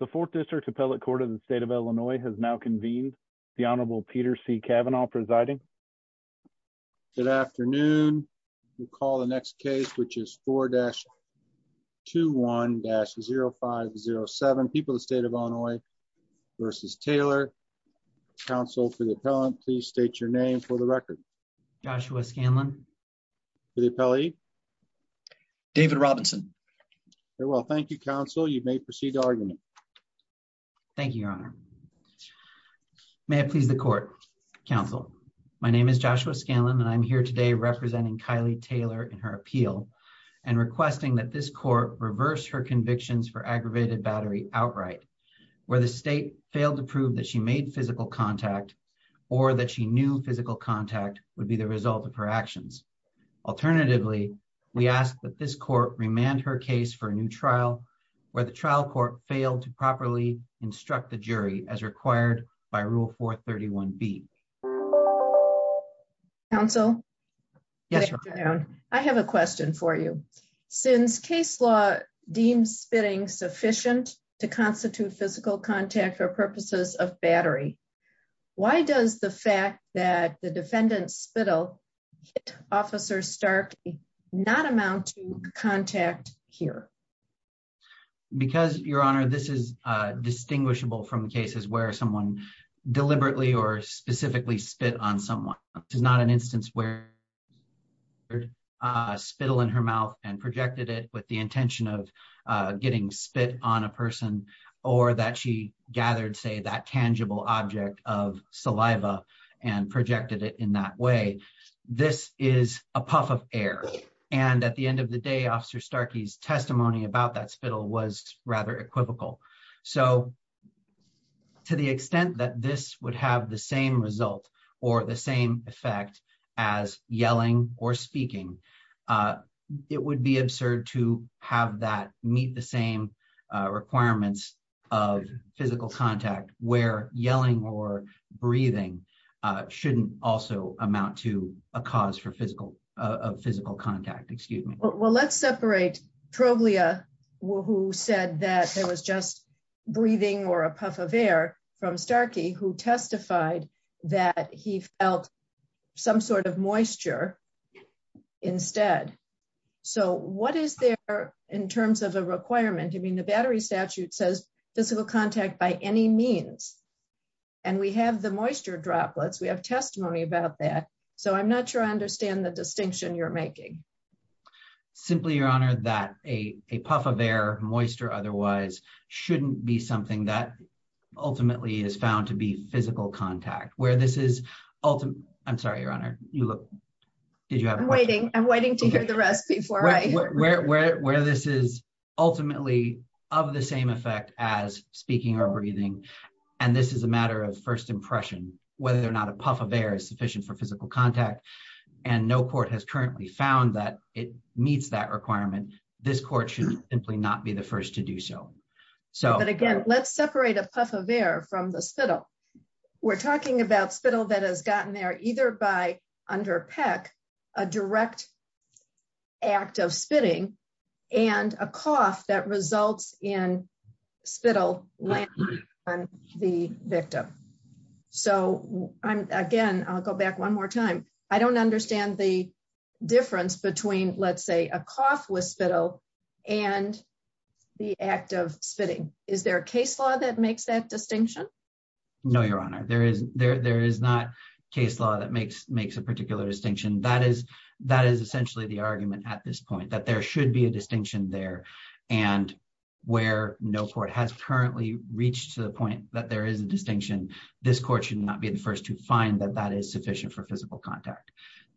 The Fourth District Appellate Court of the State of Illinois has now convened. The Honorable Peter C. Kavanaugh presiding. Good afternoon. We'll call the next case, which is 4-21-0507. People of the State of Illinois v. Taylor. Counsel for the appellant, please state your name for the record. Joshua Scanlon. For the appellee? David Robinson. Very well. Thank you, Counsel. You may proceed to argument. Thank you, Your Honor. May it please the Court. Counsel, my name is Joshua Scanlon and I'm here today representing Kylie Taylor in her appeal and requesting that this court reverse her convictions for aggravated battery outright, where the state failed to prove that she made physical contact or that she knew physical contact would be the result of her actions. Alternatively, we ask that this court remand her case for a new trial where the trial court failed to properly instruct the jury as required by Rule 431B. Counsel? Yes, Your Honor. I have a question for you. Since case law deems spitting sufficient to constitute physical contact for purposes of battery, why does the fact that the defendant spittle Officer Stark not amount to contact here? Because, Your Honor, this is distinguishable from the cases where someone deliberately or specifically spit on someone. This is not an instance where a spittle in her mouth and projected it with the intention of getting spit on a person, or that she gathered, say, that tangible object of saliva and projected it in that way. This is a puff of air. And at the end of the day, Officer Starkey's testimony about that spittle was rather equivocal. So, to the extent that this would have the same result or the same effect as yelling or speaking, it would be absurd to have that meet the same requirements of physical contact where yelling or breathing shouldn't also amount to a cause for physical contact. Well, let's separate Troglia, who said that there was just breathing or a puff of air from Starkey, who testified that he felt some sort of moisture instead. So what is there in terms of a requirement? I mean, the battery statute says physical contact by any means. And we have the moisture droplets. We have testimony about that. So I'm not sure I understand the distinction you're making. Simply, Your Honor, that a puff of air, moisture otherwise, shouldn't be something that ultimately is found to be physical contact. I'm sorry, Your Honor. Did you have a question? I'm waiting to hear the rest before I hear it. Where this is ultimately of the same effect as speaking or breathing, and this is a matter of first impression, whether or not a puff of air is sufficient for physical contact, and no court has currently found that it meets that requirement, this court should simply not be the first to do so. But again, let's separate a puff of air from the spittle. We're talking about spittle that has gotten there either by, under Peck, a direct act of spitting and a cough that results in spittle landing on the victim. So, again, I'll go back one more time. I don't understand the difference between, let's say, a cough with spittle and the act of spitting. Is there a case law that makes that distinction? No, Your Honor. There is not a case law that makes a particular distinction. That is essentially the argument at this point, that there should be a distinction there, and where no court has currently reached to the point that there is a distinction, this court should not be the first to find that that is sufficient for physical contact.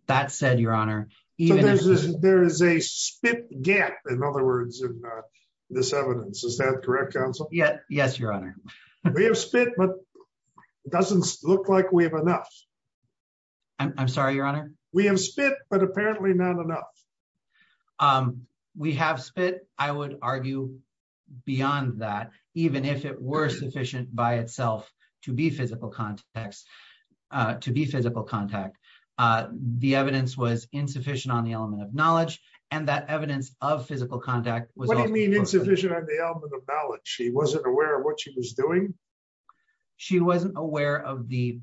That said, Your Honor... There is a spit gap, in other words, in this evidence. Is that correct, Counsel? Yes, Your Honor. We have spit, but it doesn't look like we have enough. I'm sorry, Your Honor? We have spit, but apparently not enough. We have spit, I would argue, beyond that, even if it were sufficient by itself to be physical contact. The evidence was insufficient on the element of knowledge, and that evidence of physical contact was... What do you mean insufficient on the element of knowledge? She wasn't aware of what she was doing? She wasn't aware of the...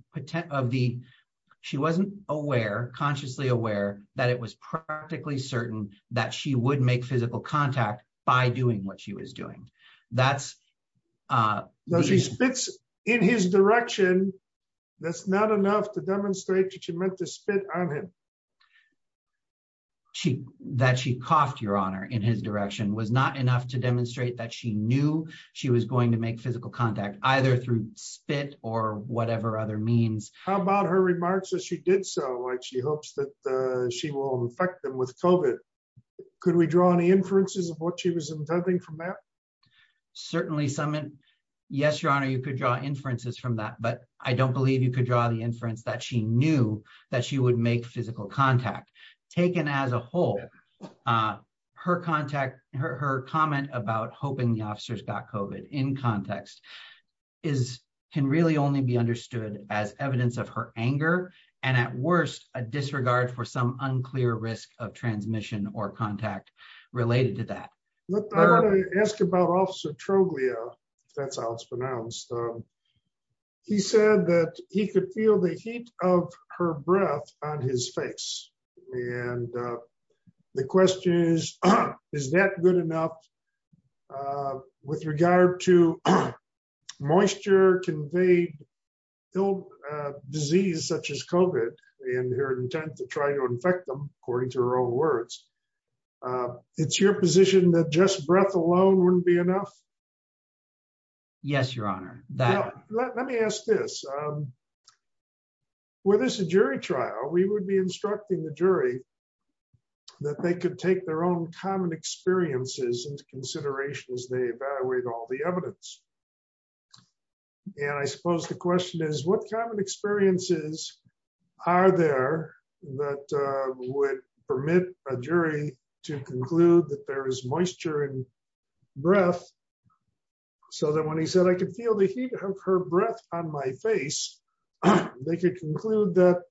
She wasn't aware, consciously aware, that it was practically certain that she would make physical contact by doing what she was doing. That's... She spits in his direction. That's not enough to demonstrate that she meant to spit on him. That she coughed, Your Honor, in his direction was not enough to demonstrate that she knew she was going to make physical contact, either through spit or whatever other means. How about her remarks that she did so, like she hopes that she will infect them with COVID? Could we draw any inferences of what she was intending from that? Certainly some... Yes, Your Honor, you could draw inferences from that, but I don't believe you could draw the inference that she knew that she would make physical contact. Taken as a whole, her contact... Her comment about hoping the officers got COVID in context is... can really only be understood as evidence of her anger, and at worst, a disregard for some unclear risk of transmission or contact related to that. I'm going to ask about Officer Troglia, if that's how it's pronounced. He said that he could feel the heat of her breath on his face. And the question is, is that good enough with regard to moisture-conveyed disease such as COVID and her intent to try to infect them, according to her own words? It's your position that just breath alone wouldn't be enough? Yes, Your Honor. Let me ask this. Were this a jury trial, we would be instructing the jury that they could take their own common experiences into consideration as they evaluate all the evidence. And I suppose the question is, what kind of experiences are there that would permit a jury to conclude that there is moisture in breath, so that when he said, I could feel the heat of her breath on my face, they could conclude that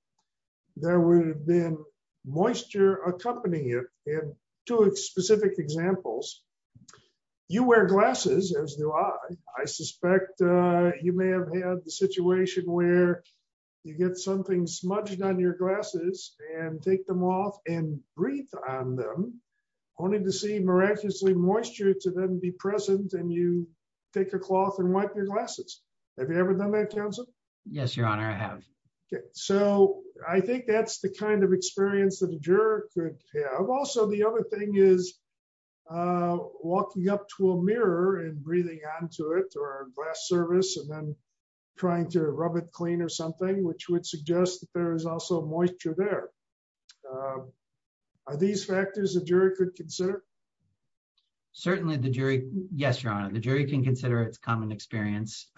there would have been moisture accompanying it. Two specific examples. You wear glasses, as do I. I suspect you may have had the situation where you get something smudged on your glasses and take them off and breathe on them, only to see miraculously moisture to then be present and you take a cloth and wipe your glasses. Have you ever done that, counsel? Yes, Your Honor, I have. So I think that's the kind of experience that a juror could have. Also, the other thing is walking up to a mirror and breathing onto it or glass service and then trying to rub it clean or something, which would suggest that there is also moisture there. Are these factors a jury could consider? Certainly the jury. Yes, Your Honor, the jury can consider it's common experience.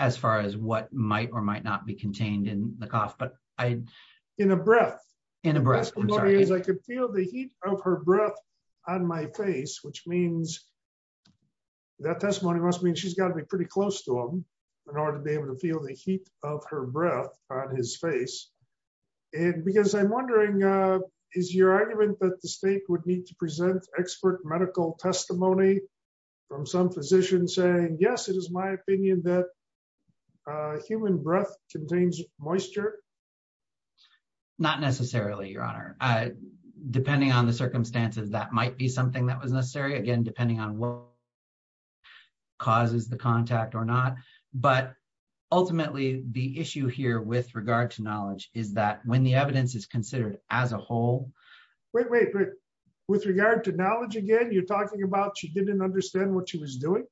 As far as what might or might not be contained in the cough, but I... In a breath. In a breath. I could feel the heat of her breath on my face, which means that testimony must mean she's got to be pretty close to him in order to be able to feel the heat of her breath on his face. And because I'm wondering, is your argument that the state would need to present expert medical testimony from some physician saying, yes, it is my opinion that human breath contains moisture? Not necessarily, Your Honor. Depending on the circumstances, that might be something that was necessary, again, depending on what causes the contact or not. But ultimately, the issue here with regard to knowledge is that when the evidence is considered as a whole... Wait, wait, wait. With regard to knowledge again, you're talking about she didn't understand what she was doing?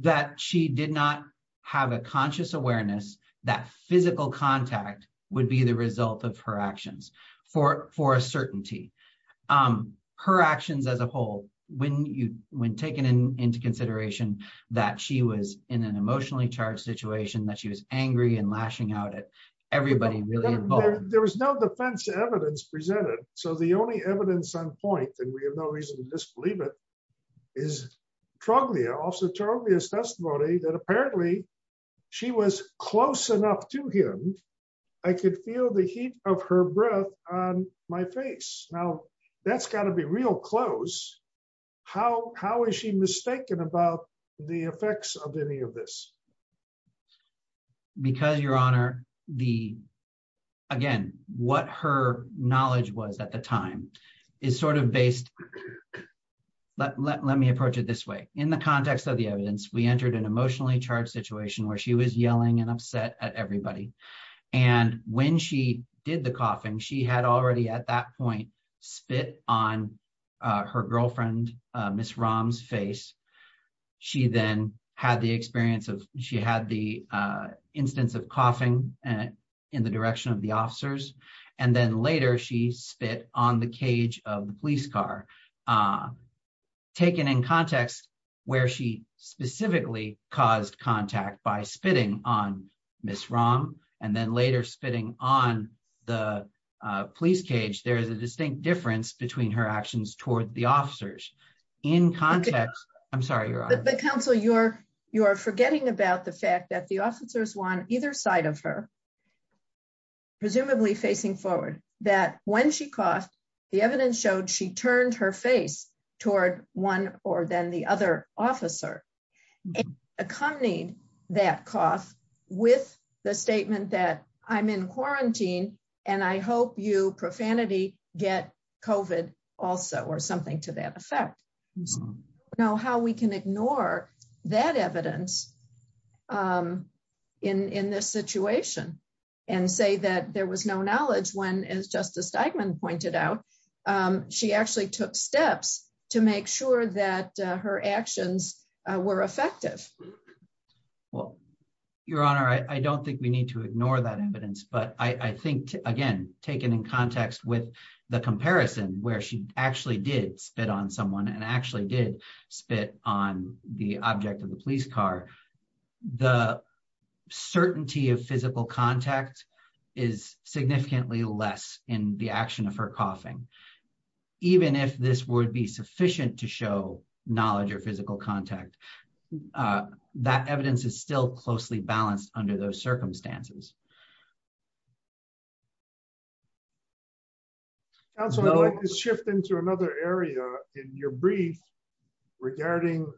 That she did not have a conscious awareness that physical contact would be the result of her actions for a certainty. Her actions as a whole, when taken into consideration, that she was in an emotionally charged situation, that she was angry and lashing out at everybody really involved. There was no defense evidence presented. So the only evidence on point, and we have no reason to disbelieve it, is Troglia. Officer Troglia's testimony that apparently she was close enough to him, I could feel the heat of her breath on my face. Now, that's got to be real close. How is she mistaken about the effects of any of this? Because, Your Honor, again, what her knowledge was at the time is sort of based... Let me approach it this way. In the context of the evidence, we entered an emotionally charged situation where she was yelling and upset at everybody. And when she did the coughing, she had already at that point spit on her girlfriend, Ms. Rahm's face. She then had the experience of... She had the instance of coughing in the direction of the officers. And then later she spit on the cage of the police car. Taken in context where she specifically caused contact by spitting on Ms. Rahm, and then later spitting on the police cage, there is a distinct difference between her actions toward the officers. In context... I'm sorry, Your Honor. Counsel, you're forgetting about the fact that the officers were on either side of her, presumably facing forward. That when she coughed, the evidence showed she turned her face toward one or then the other officer. And accompanied that cough with the statement that, I'm in quarantine, and I hope you, profanity, get COVID also, or something to that effect. Now, how we can ignore that evidence in this situation and say that there was no knowledge when, as Justice Steigman pointed out, she actually took steps to make sure that her actions were effective. Well, Your Honor, I don't think we need to ignore that evidence. But I think, again, taken in context with the comparison where she actually did spit on someone and actually did spit on the object of the police car, the certainty of physical contact is significantly less in the action of her coughing. Even if this would be sufficient to show knowledge or physical contact, that evidence is still closely balanced under those circumstances. Counsel, I'd like to shift into another area in your brief regarding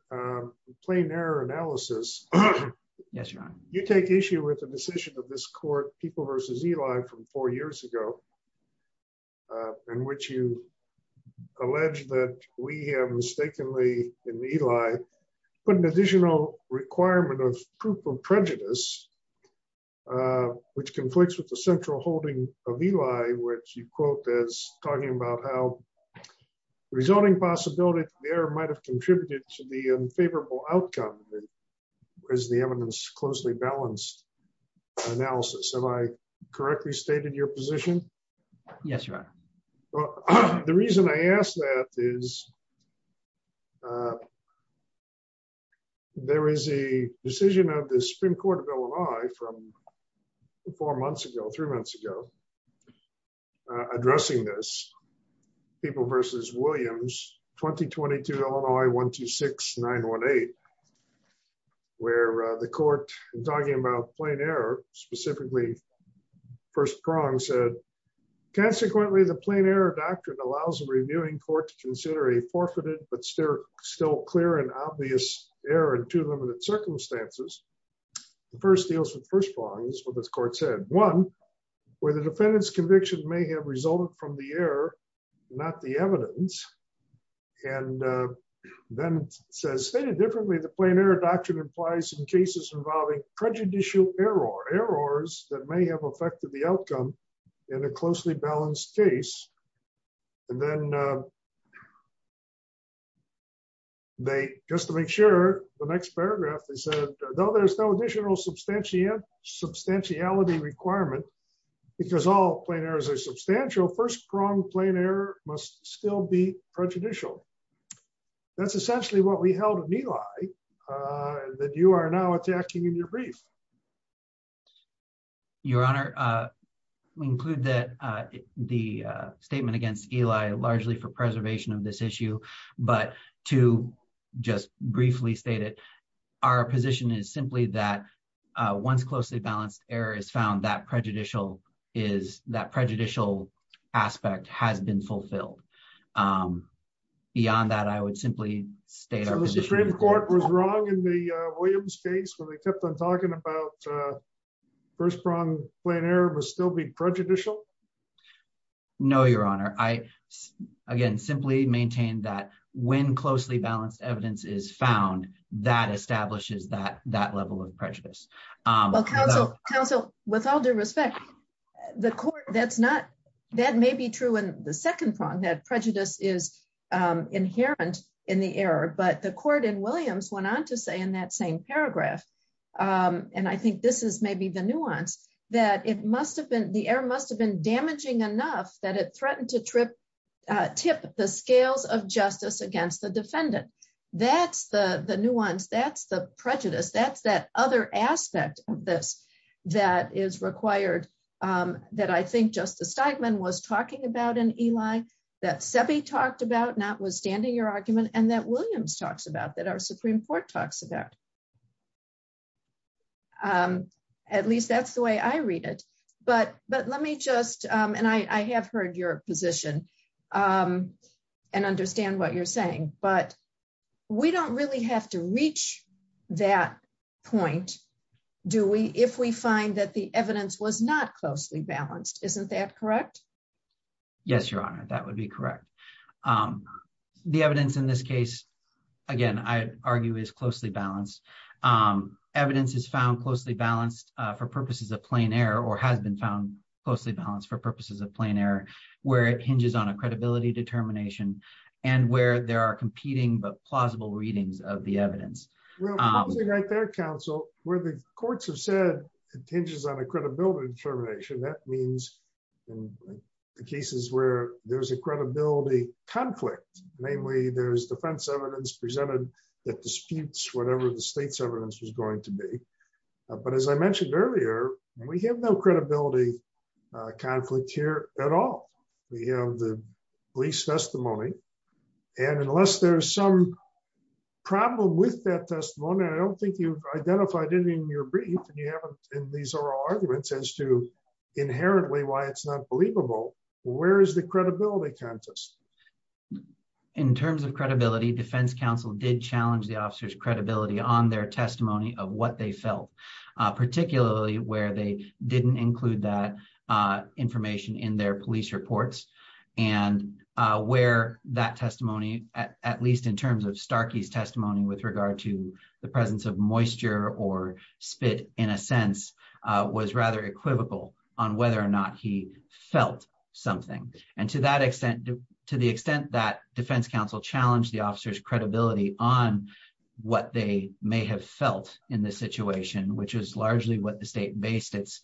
plain error analysis. Yes, Your Honor. You take issue with the decision of this court, People v. Eli, from four years ago, in which you allege that we have mistakenly, in Eli, put an additional requirement of proof of prejudice, which conflicts with the central holding of Eli, which you quote as talking about how resulting possibility there might have contributed to the unfavorable outcome as the evidence closely balanced analysis. Have I correctly stated your position? Yes, Your Honor. The reason I asked that is, there is a decision of the Supreme Court of Illinois from four months ago, three months ago, addressing this. People v. Williams, 2022, Illinois 126918, where the court, talking about plain error, specifically first prong, said, Consequently, the plain error doctrine allows the reviewing court to consider a forfeited but still clear and obvious error in two limited circumstances. The first deals with first prongs, what this court said. One, where the defendant's conviction may have resulted from the error, not the evidence, and then says, Stated differently, the plain error doctrine implies in cases involving prejudicial error, errors that may have affected the outcome in a closely balanced case. And then they, just to make sure, the next paragraph, they said, though there's no additional substantiality requirement, because all plain errors are substantial, first prong plain error must still be prejudicial. That's essentially what we held of Eli that you are now attacking in your brief. Your Honor, we include that the statement against Eli largely for preservation of this issue, but to just briefly state it, our position is simply that once closely balanced error is found that prejudicial is that prejudicial aspect has been fulfilled. Beyond that, I would simply state our position. So the Supreme Court was wrong in the Williams case when they kept on talking about first prong plain error must still be prejudicial? No, Your Honor. I, again, simply maintain that when closely balanced evidence is found, that establishes that that level of prejudice. Counsel, with all due respect, the court, that's not, that may be true in the second prong, that prejudice is inherent in the error, but the court in Williams went on to say in that same paragraph. And I think this is maybe the nuance, that it must have been, the error must have been damaging enough that it threatened to tip the scales of justice against the defendant. That's the nuance, that's the prejudice, that's that other aspect of this that is required, that I think Justice Steigman was talking about in Eli, that Sebi talked about, notwithstanding your argument, and that Williams talks about, that our Supreme Court talks about. At least that's the way I read it. But, but let me just, and I have heard your position and understand what you're saying, but we don't really have to reach that point, do we, if we find that the evidence was not closely balanced, isn't that correct? Yes, Your Honor, that would be correct. The evidence in this case, again, I argue is closely balanced. Evidence is found closely balanced for purposes of plain error, or has been found closely balanced for purposes of plain error, where it hinges on a credibility determination, and where there are competing but plausible readings of the evidence. Right there, counsel, where the courts have said it hinges on a credibility determination, that means in the cases where there's a credibility conflict, namely there's defense evidence presented that disputes whatever the state's evidence was going to be. But as I mentioned earlier, we have no credibility conflict here at all. We have the police testimony. And unless there's some problem with that testimony, I don't think you've identified it in your brief, and you haven't in these oral arguments as to inherently why it's not believable, where is the credibility contest? In terms of credibility, defense counsel did challenge the officer's credibility on their testimony of what they felt, particularly where they didn't include that information in their police reports. And where that testimony, at least in terms of Starkey's testimony with regard to the presence of moisture or spit, in a sense, was rather equivocal on whether or not he felt something. And to that extent, to the extent that defense counsel challenged the officer's credibility on what they may have felt in this situation, which is largely what the state based its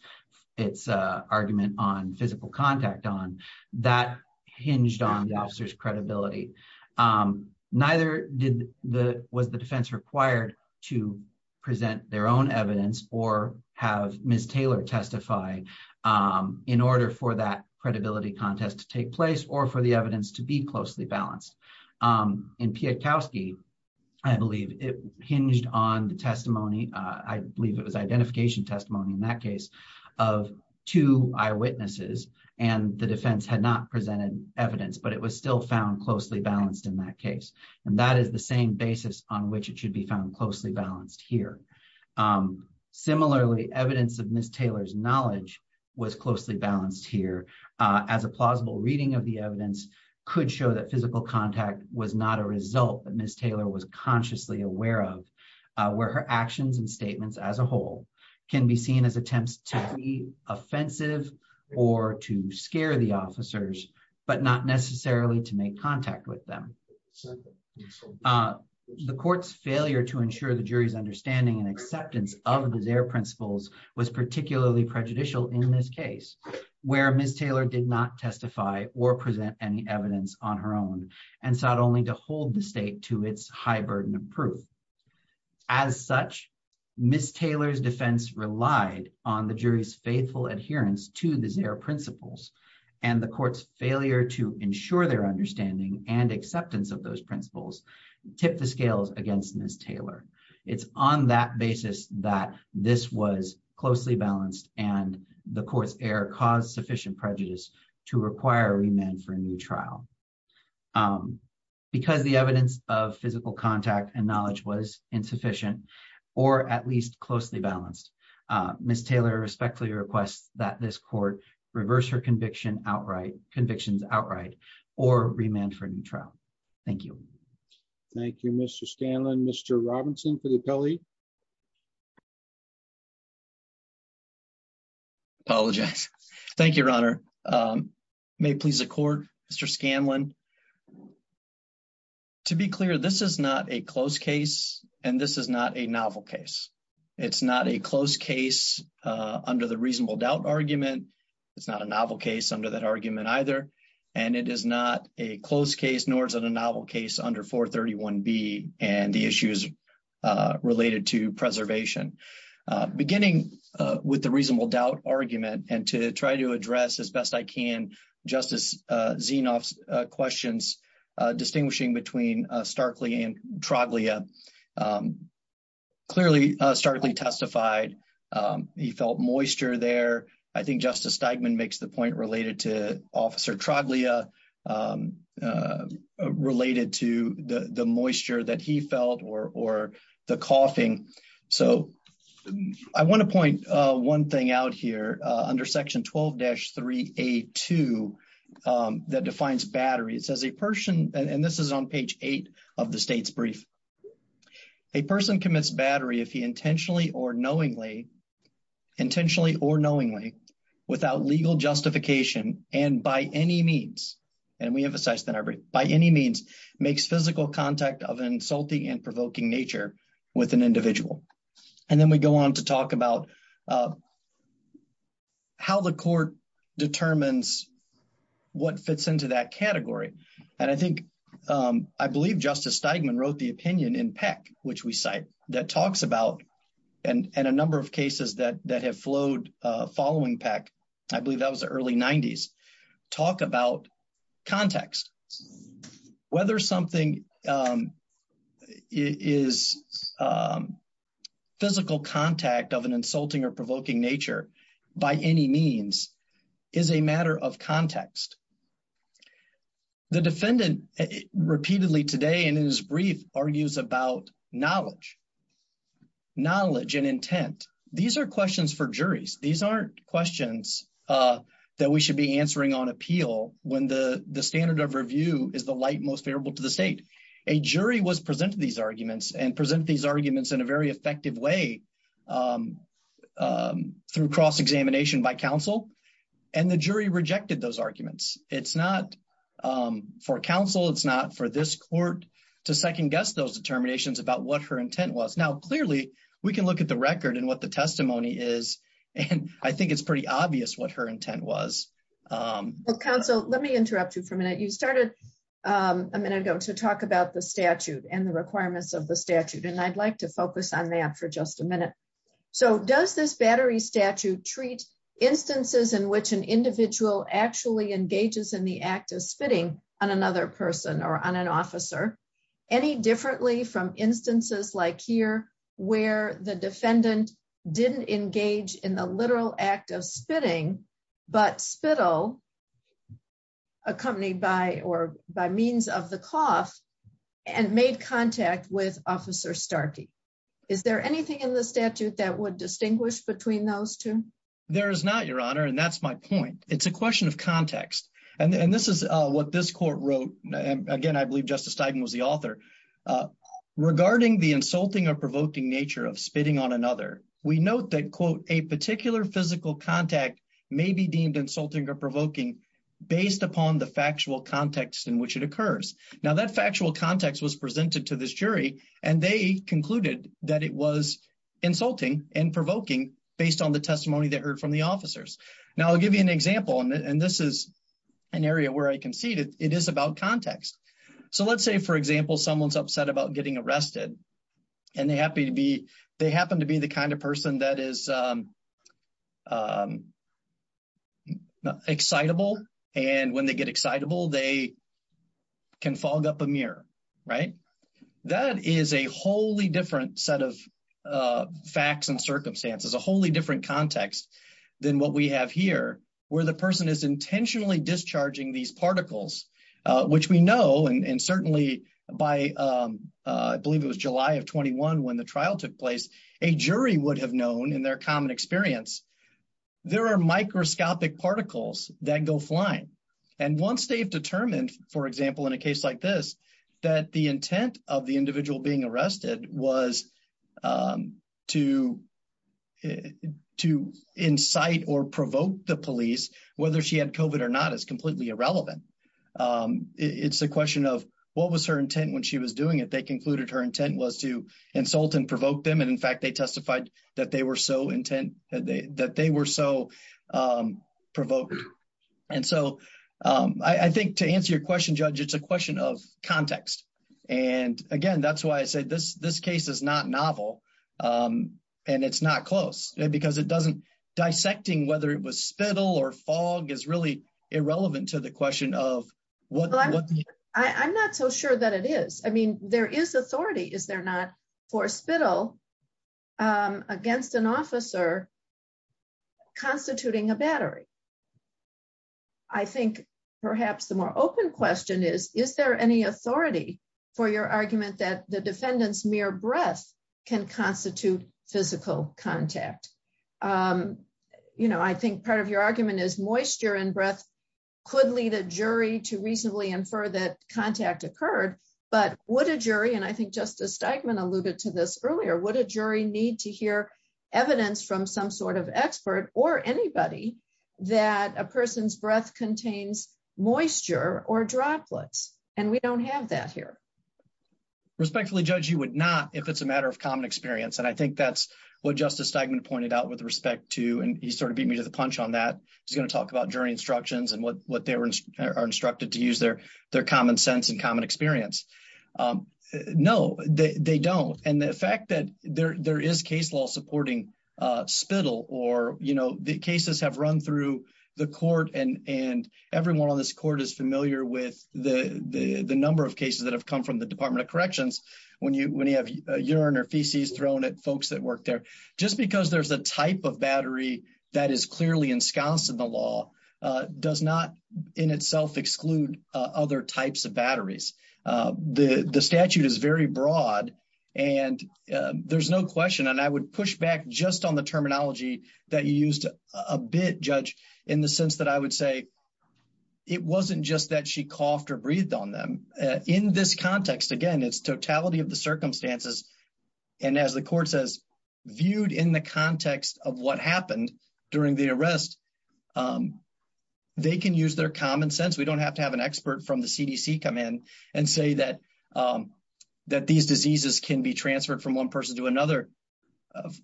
argument on physical contact on, that hinged on the officer's credibility. Neither was the defense required to present their own evidence or have Ms. Taylor testify in order for that credibility contest to take place or for the evidence to be closely balanced. In Pietkowski, I believe it hinged on the testimony, I believe it was identification testimony in that case, of two eyewitnesses, and the defense had not presented evidence, but it was still found closely balanced in that case. And that is the same basis on which it should be found closely balanced here. Similarly, evidence of Ms. Taylor's knowledge was closely balanced here. As a plausible reading of the evidence could show that physical contact was not a result that Ms. Taylor was consciously aware of, where her actions and statements as a whole can be seen as attempts to be offensive or to scare the officers, but not necessarily to make contact with them. The court's failure to ensure the jury's understanding and acceptance of the Zare principles was particularly prejudicial in this case, where Ms. Taylor did not testify or present any evidence on her own, and sought only to hold the state to its high burden of proof. As such, Ms. Taylor's defense relied on the jury's faithful adherence to the Zare principles, and the court's failure to ensure their understanding and acceptance of those principles tipped the scales against Ms. Taylor. It's on that basis that this was closely balanced and the court's error caused sufficient prejudice to require a remand for a new trial. Because the evidence of physical contact and knowledge was insufficient, or at least closely balanced, Ms. Taylor respectfully requests that this court reverse her convictions outright or remand for a new trial. Thank you. Thank you, Mr. Scanlon. Mr. Robinson for the appellee. Apologize. Thank you, Your Honor. May it please the court, Mr. Scanlon. To be clear, this is not a close case, and this is not a novel case. It's not a close case under the reasonable doubt argument. It's not a novel case under that argument either. And it is not a close case, nor is it a novel case, under 431B and the issues related to preservation. Beginning with the reasonable doubt argument and to try to address as best I can Justice Zinoff's questions distinguishing between Starkley and Troglia, clearly Starkley testified he felt moisture there. I think Justice Steigman makes the point related to Officer Troglia, related to the moisture that he felt or the coughing. So I want to point one thing out here under Section 12-3A2 that defines battery. It says a person, and this is on page 8 of the state's brief, a person commits battery if he intentionally or knowingly, intentionally or knowingly, without legal justification and by any means, and we emphasize that by any means, makes physical contact of an insulting and provoking nature with an individual. And then we go on to talk about how the court determines what fits into that category. And I think, I believe Justice Steigman wrote the opinion in Peck, which we cite, that talks about, and a number of cases that have flowed following Peck, I believe that was the early 90s, talk about context. Whether something is physical contact of an insulting or provoking nature by any means is a matter of context. The defendant repeatedly today in his brief argues about knowledge, knowledge and intent. These are questions for juries. These aren't questions that we should be answering on appeal when the standard of review is the light most favorable to the state. A jury was presented these arguments and presented these arguments in a very effective way through cross-examination by counsel, and the jury rejected those arguments. It's not for counsel, it's not for this court to second-guess those determinations about what her intent was. Now, clearly, we can look at the record and what the testimony is, and I think it's pretty obvious what her intent was. Counsel, let me interrupt you for a minute. You started a minute ago to talk about the statute and the requirements of the statute, and I'd like to focus on that for just a minute. So, does this battery statute treat instances in which an individual actually engages in the act of spitting on another person or on an officer any differently from instances like here, where the defendant didn't engage in the literal act of spitting, but spittle, accompanied by or by means of the cough, and made contact with Officer Starkey? Is there anything in the statute that would distinguish between those two? There is not, Your Honor, and that's my point. It's a question of context, and this is what this court wrote. Again, I believe Justice Steigen was the author. Regarding the insulting or provoking nature of spitting on another, we note that, quote, a particular physical contact may be deemed insulting or provoking based upon the factual context in which it occurs. Now, that factual context was presented to this jury, and they concluded that it was insulting and provoking based on the testimony they heard from the officers. Now, I'll give you an example, and this is an area where I concede it is about context. So, let's say, for example, someone's upset about getting arrested, and they happen to be the kind of person that is excitable, and when they get excitable, they can fog up a mirror, right? That is a wholly different set of facts and circumstances, a wholly different context than what we have here, where the person is intentionally discharging these particles, which we know, and certainly by, I believe it was July of 21 when the trial took place, a jury would have known in their common experience, there are microscopic particles that go flying. And once they've determined, for example, in a case like this, that the intent of the individual being arrested was to incite or provoke the police, whether she had COVID or not is completely irrelevant. It's a question of what was her intent when she was doing it. They concluded her intent was to insult and provoke them, and in fact, they testified that they were so intent, that they were so provoked. And so, I think to answer your question, Judge, it's a question of context. And again, that's why I said this case is not novel, and it's not close, because it doesn't, dissecting whether it was spittle or fog is really irrelevant to the question of what... I think perhaps the more open question is, is there any authority for your argument that the defendant's mere breath can constitute physical contact? You know, I think part of your argument is moisture and breath could lead a jury to reasonably infer that contact occurred. But would a jury, and I think Justice Steigman alluded to this earlier, would a jury need to hear evidence from some sort of expert or anybody that a person's breath contains moisture or droplets? And we don't have that here. Respectfully, Judge, you would not, if it's a matter of common experience. And I think that's what Justice Steigman pointed out with respect to, and he sort of beat me to the punch on that. He's going to talk about jury instructions and what they are instructed to use their common sense and common experience. No, they don't. And the fact that there is case law supporting spittle or, you know, the cases have run through the court and everyone on this court is familiar with the number of cases that have come from the Department of Corrections. When you have urine or feces thrown at folks that work there, just because there's a type of battery that is clearly ensconced in the law does not in itself exclude other types of batteries. The statute is very broad and there's no question, and I would push back just on the terminology that you used a bit, Judge, in the sense that I would say it wasn't just that she coughed or breathed on them. In this context, again, it's totality of the circumstances. And as the court says, viewed in the context of what happened during the arrest, they can use their common sense. We don't have to have an expert from the CDC come in and say that these diseases can be transferred from one person to another.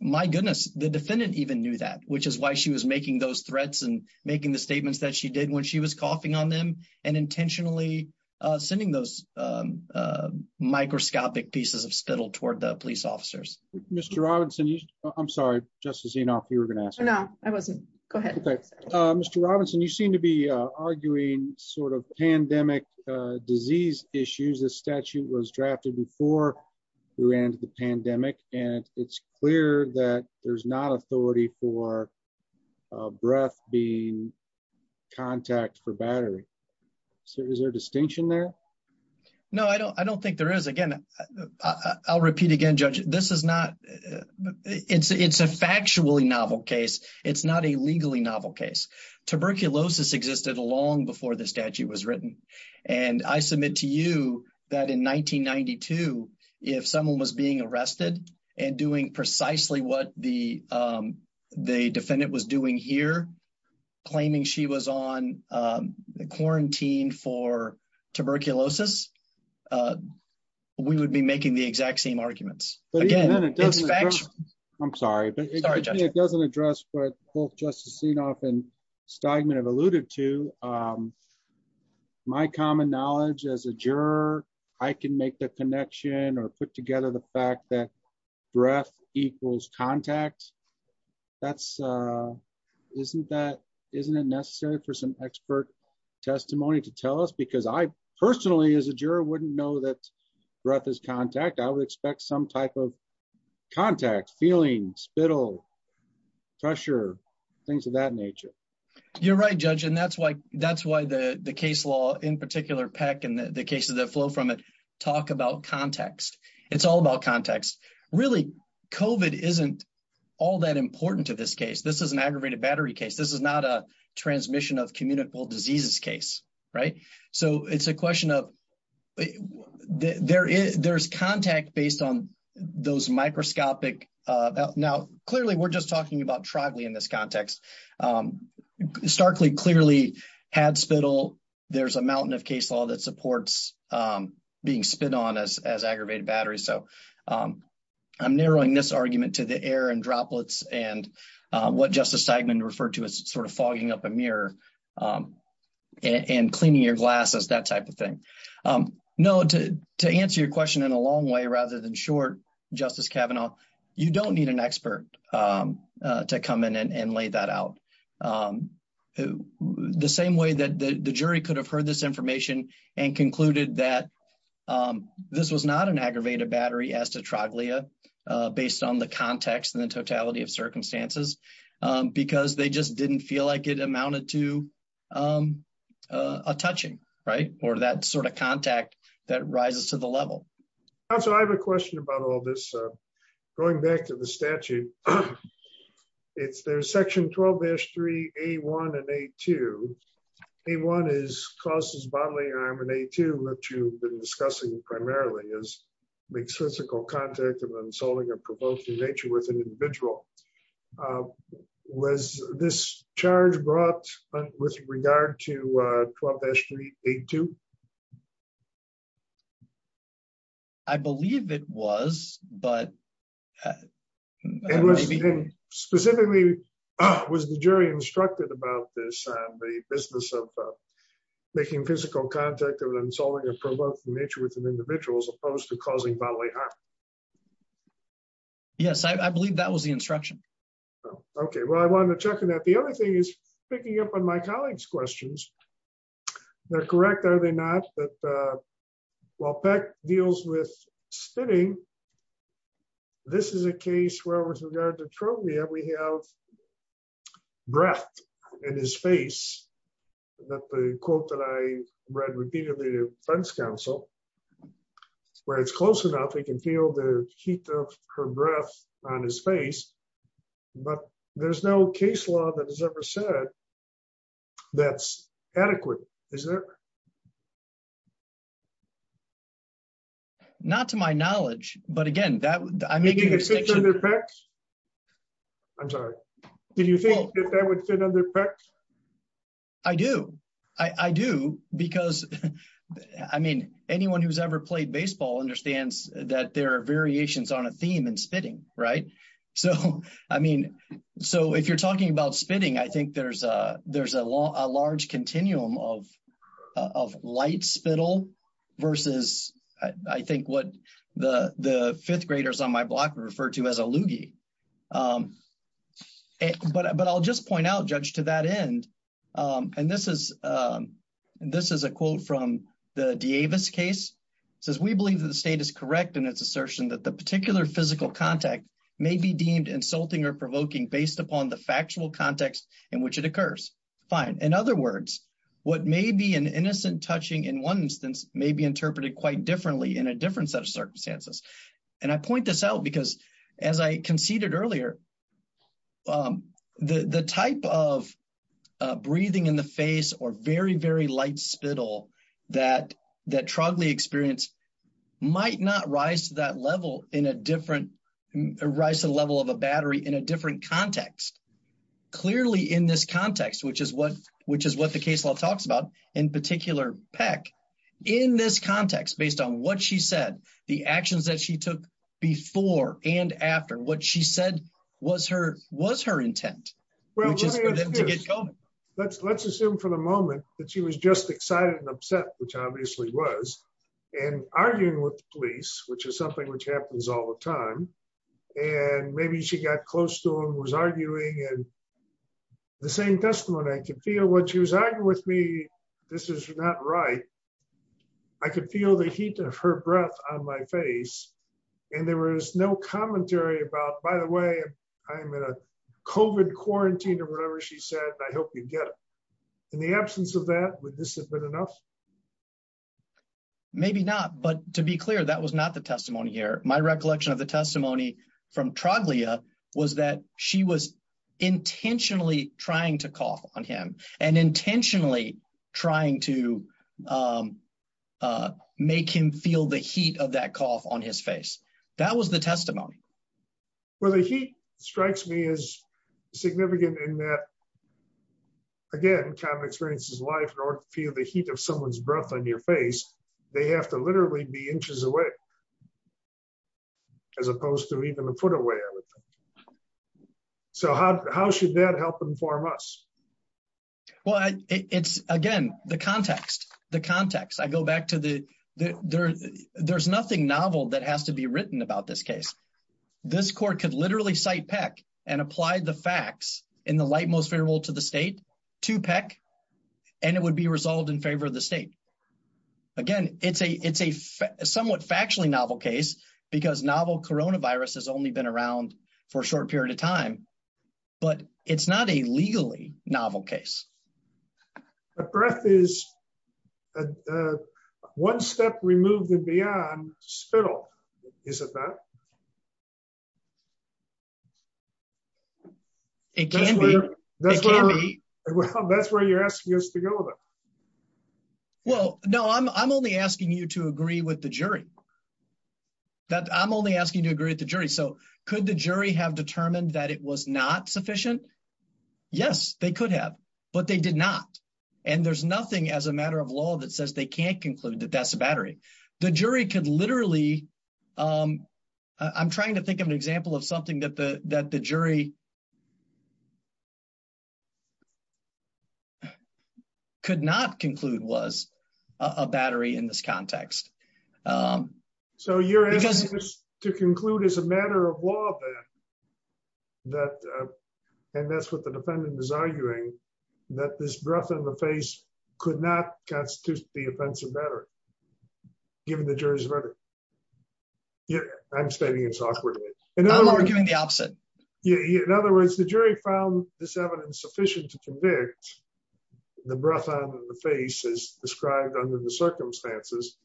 My goodness, the defendant even knew that, which is why she was making those threats and making the statements that she did when she was coughing on them and intentionally sending those microscopic pieces of spittle toward the police officers. Mr. Robinson, I'm sorry, Justice Enoff, you were going to ask. No, I wasn't. Go ahead. Mr. Robinson, you seem to be arguing sort of pandemic disease issues. The statute was drafted before we ran into the pandemic, and it's clear that there's not authority for breath being contact for battery. So is there a distinction there? No, I don't think there is. Again, I'll repeat again, Judge, this is not, it's a factually novel case. It's not a legally novel case. Tuberculosis existed long before the statute was written. And I submit to you that in 1992, if someone was being arrested and doing precisely what the defendant was doing here, claiming she was on quarantine for tuberculosis, we would be making the exact same arguments. I'm sorry, but it doesn't address what both Justice Enoff and Steigman have alluded to. My common knowledge as a juror, I can make the connection or put together the fact that breath equals contact. Isn't it necessary for some expert testimony to tell us? Because I personally, as a juror, wouldn't know that breath is contact. I would expect some type of contact, feeling, spittle, pressure, things of that nature. You're right, Judge, and that's why the case law, in particular PEC and the cases that flow from it, talk about context. It's all about context. Really, COVID isn't all that important to this case. This is an aggravated battery case. This is not a transmission of communicable diseases case. So it's a question of there's contact based on those microscopic. Now, clearly, we're just talking about tribally in this context. Starkly clearly had spittle. There's a mountain of case law that supports being spit on as aggravated battery. So I'm narrowing this argument to the air and droplets and what Justice Steigman referred to as sort of fogging up a mirror and cleaning your glasses, that type of thing. No, to answer your question in a long way rather than short, Justice Kavanaugh, you don't need an expert to come in and lay that out. The same way that the jury could have heard this information and concluded that this was not an aggravated battery as to troglia based on the context and the totality of circumstances, because they just didn't feel like it amounted to a touching. Right. Or that sort of contact that rises to the level. So I have a question about all this. Going back to the statute. It's their section 12 history, a one and a two. A one is causes bodily harm and a two that you've been discussing primarily is make physical contact and then solving a provoking nature with an individual was this charge brought up with regard to club history, a two. I believe it was, but specifically, was the jury instructed about this, the business of making physical contact and then solving a provoking nature with an individual as opposed to causing bodily harm. Yes, I believe that was the instruction. Okay, well I want to check in that the other thing is picking up on my colleagues questions. They're correct are they not, but while Beck deals with spinning. This is a case where with regard to troglia we have breath in his face. The quote that I read repeatedly defense counsel, where it's close enough we can feel the heat of her breath on his face. But there's no case law that has ever said that's adequate, is there. Not to my knowledge, but again that I'm making a difference. I'm sorry. Did you think that would fit under perks. I do, I do, because, I mean, anyone who's ever played baseball understands that there are variations on a theme and spitting. Right. So, I mean, so if you're talking about spinning I think there's a, there's a law, a large continuum of, of law. Versus, I think what the, the fifth graders on my block referred to as a loogie. But I'll just point out judge to that end. And this is, this is a quote from the Davis case says we believe that the state is correct in its assertion that the particular physical contact may be deemed insulting or provoking based upon the factual context in which it occurs. Fine. In other words, what may be an innocent touching in one instance, maybe interpreted quite differently in a different set of circumstances. And I point this out because, as I conceded earlier. The, the type of breathing in the face or very, very light spittle that that troubling experience might not rise to that level in a different rise to the level of a battery in a different context. Clearly in this context, which is what, which is what the case law talks about in particular pack in this context based on what she said the actions that she took before and after what she said was her was her intent. Well, let's let's assume for the moment that she was just excited and upset, which obviously was and arguing with police, which is something which happens all the time. And maybe she got close to him was arguing and the same testimony I can feel what she was arguing with me. This is not right. I could feel the heat of her breath on my face. And there was no commentary about by the way, I'm in a coven quarantine or whatever she said I hope you get in the absence of that with this has been enough. Maybe not, but to be clear that was not the testimony here, my recollection of the testimony from Troglodyte was that she was intentionally trying to call on him and intentionally trying to make him feel the heat of that call on his face. That was the testimony. Well, the heat strikes me as significant in that, again, kind of experiences life in order to feel the heat of someone's breath on your face. They have to literally be inches away, as opposed to even a foot away. So how, how should that help inform us. Well, it's, again, the context, the context I go back to the, there's nothing novel that has to be written about this case. This court could literally cite Peck and apply the facts in the light most favorable to the state to Peck, and it would be resolved in favor of the state. Again, it's a it's a somewhat factually novel case because novel coronavirus has only been around for a short period of time, but it's not a legally novel case. Breath is one step removed and beyond spittle. Is it that it can be. That's where you're asking us to go with it. Well, no, I'm only asking you to agree with the jury that I'm only asking you to agree with the jury so could the jury have determined that it was not sufficient. Yes, they could have, but they did not. And there's nothing as a matter of law that says they can't conclude that that's a battery. The jury could literally. I'm trying to think of an example of something that the that the jury could not conclude was a battery in this context. So you're asking us to conclude as a matter of law. That. And that's what the defendant is arguing that this breath on the face could not constitute the offensive matter. Given the jury's rhetoric. Yeah, I'm stating it's awkward. And I'm arguing the opposite. In other words, the jury found this evidence sufficient to convict the breath on the face is described under the circumstances.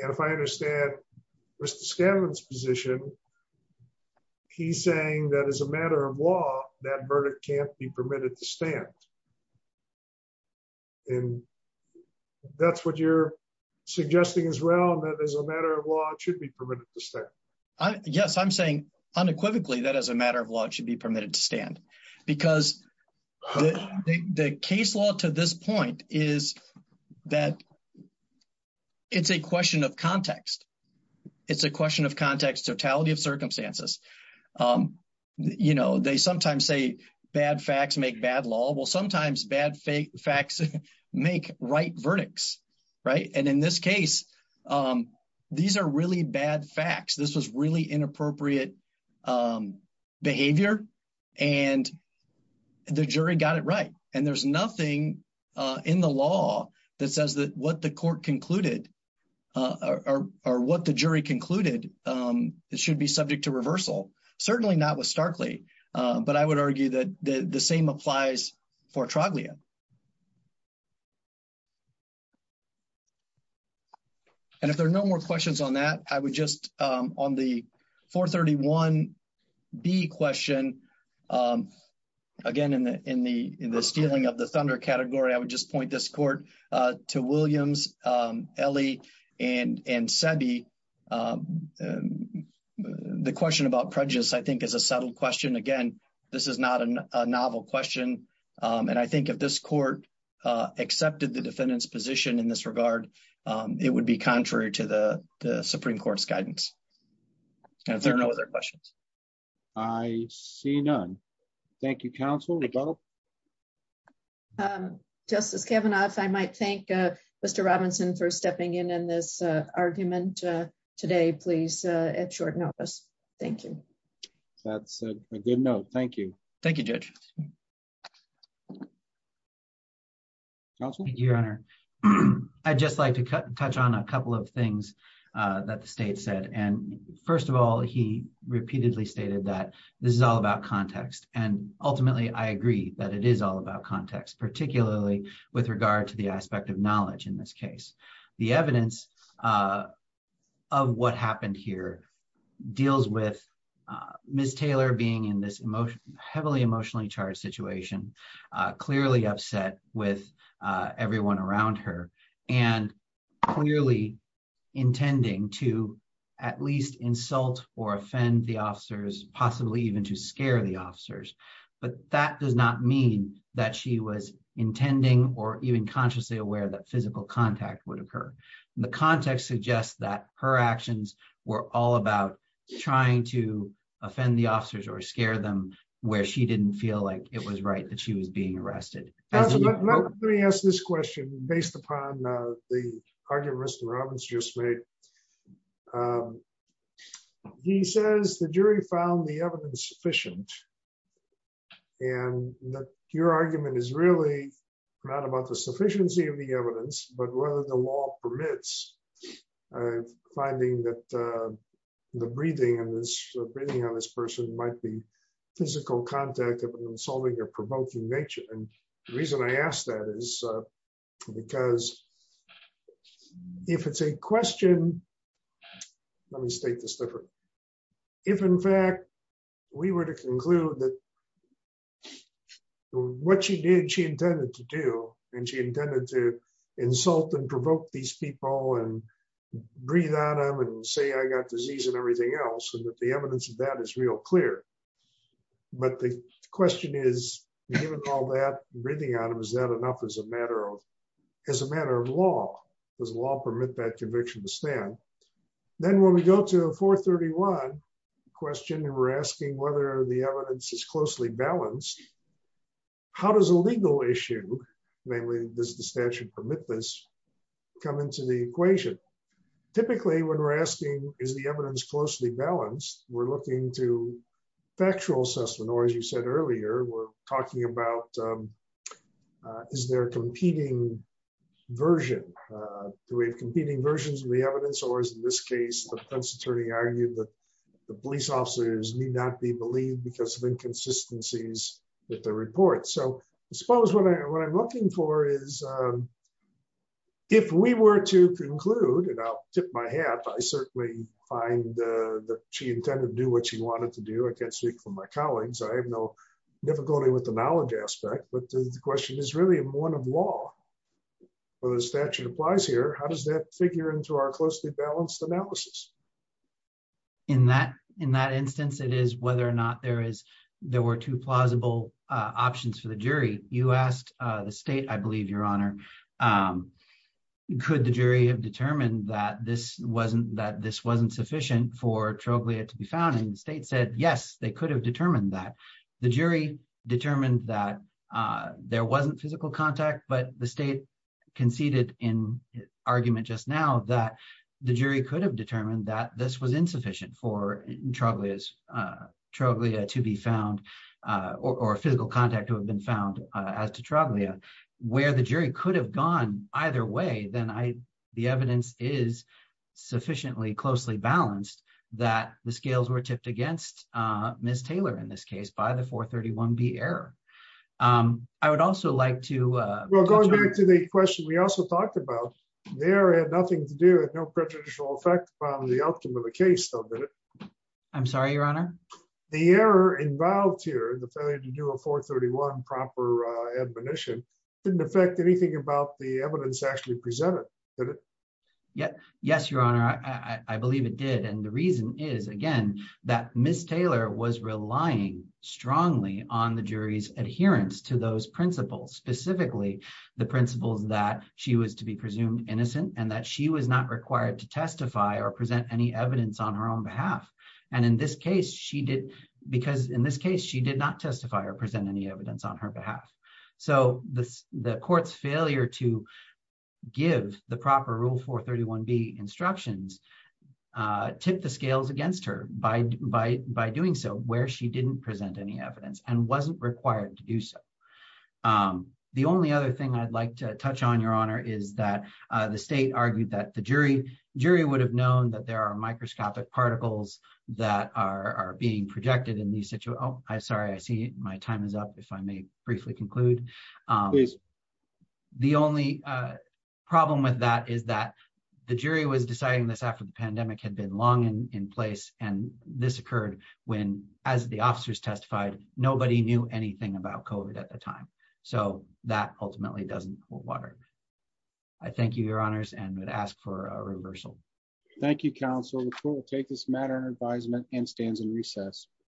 And if I understand. Mr Scanlon's position. He's saying that as a matter of law, that verdict can't be permitted to stand. And that's what you're suggesting as well that as a matter of law, it should be permitted to stay. Yes, I'm saying unequivocally that as a matter of law, it should be permitted to stand, because the case law to this point is that it's a question of context. It's a question of context totality of circumstances. You know, they sometimes say bad facts make bad law. Well, sometimes bad facts make right verdicts. Right. And in this case, these are really bad facts. This was really inappropriate behavior. And the jury got it right. And there's nothing in the law that says that what the court concluded or what the jury concluded. It should be subject to reversal. Certainly not with starkly. But I would argue that the same applies for Traglia. And if there are no more questions on that, I would just on the 431 B question again in the in the in the stealing of the thunder category, I would just point this court to Williams, Ellie and and said the question about prejudice, I think, is a settled question again. This is not a novel question. And I think if this court accepted the defendant's position in this regard, it would be contrary to the Supreme Court's guidance. There are no other questions. I see none. Thank you, counsel. Justice Kavanaugh, I might thank Mr. Robinson for stepping in and this argument. Today, please. At short notice. Thank you. Thank you, Your Honor. I just like to touch on a couple of things that the state said. And first of all, he repeatedly stated that this is all about context. And ultimately, I agree that it is all about context, particularly with regard to the aspect of knowledge. The evidence of what happened here deals with Miss Taylor being in this emotionally heavily emotionally charged situation, clearly upset with everyone around her and clearly intending to at least insult or offend the officers, possibly even to scare the officers. But that does not mean that she was intending or even consciously aware that physical contact would occur. The context suggests that her actions were all about trying to offend the officers or scare them where she didn't feel like it was right that she was being arrested. Let me ask this question based upon the argument Mr. Robbins just made. He says the jury found the evidence sufficient. And your argument is really not about the sufficiency of the evidence, but whether the law permits finding that the breathing and breathing on this person might be physical contact of an insulting or provoking nature. And the reason I asked that is because if it's a question. Let me state this different. If, in fact, we were to conclude that what she did she intended to do, and she intended to insult and provoke these people and breathe on them and say I got disease and everything else and that the evidence of that is real clear. But the question is, given all that breathing out of is that enough as a matter of as a matter of law, does law permit that conviction to stand. Then when we go to 431 question and we're asking whether the evidence is closely balanced. How does a legal issue, namely, does the statute permit this come into the equation. Typically when we're asking, is the evidence closely balanced, we're looking to factual assessment or as you said earlier, we're talking about. Is there a competing version. The way of competing versions of the evidence or is in this case the attorney argued that the police officers need not be believed because of inconsistencies with the report so suppose what I'm looking for is, if we were to conclude and I'll tip my hat I find that she intended to do what she wanted to do I can't speak for my colleagues I have no difficulty with the knowledge aspect but the question is really one of law, or the statute applies here, how does that figure into our closely balanced analysis. In that, in that instance it is whether or not there is there were two plausible options for the jury, you asked the state I believe your honor. Could the jury have determined that this wasn't that this wasn't sufficient for troglodyte to be found in the state said yes they could have determined that the jury determined that there wasn't physical contact but the state conceded in argument just now that the jury could have determined that this was insufficient for troglodytes troglodyte to be found, or physical contact who have been found as to troglodyte where the jury could have gone either way then I, the evidence is sufficiently closely balanced that the scales were tipped against Miss Taylor in this case by the 431 be error. I would also like to go back to the question we also talked about there had nothing to do with no prejudicial effect on the outcome of the case. I'm sorry your honor, the error involved here the failure to do a 431 proper admonition didn't affect anything about the evidence actually presented. Yep. Yes, Your Honor, I believe it did. And the reason is, again, that Miss Taylor was relying strongly on the jury's adherence to those principles specifically the principles that she was to be presumed innocent and that she was not required to testify or present any evidence on her own behalf. And in this case she did, because in this case she did not testify or present any evidence on her behalf. So, this, the courts failure to give the proper rule for 31 be instructions tip the scales against her by, by, by doing so, where she didn't present any evidence and wasn't required to do so. The only other thing I'd like to touch on your honor is that the state argued that the jury jury would have known that there are microscopic particles that are being projected in the situation, I sorry I see my time is up, if I may briefly conclude. The only problem with that is that the jury was deciding this after the pandemic had been long in place, and this occurred when, as the officers testified, nobody knew anything about code at the time. So, that ultimately doesn't hold water. I thank you, Your Honors and would ask for a reversal. Thank you counsel will take this matter advisement and stands and recess.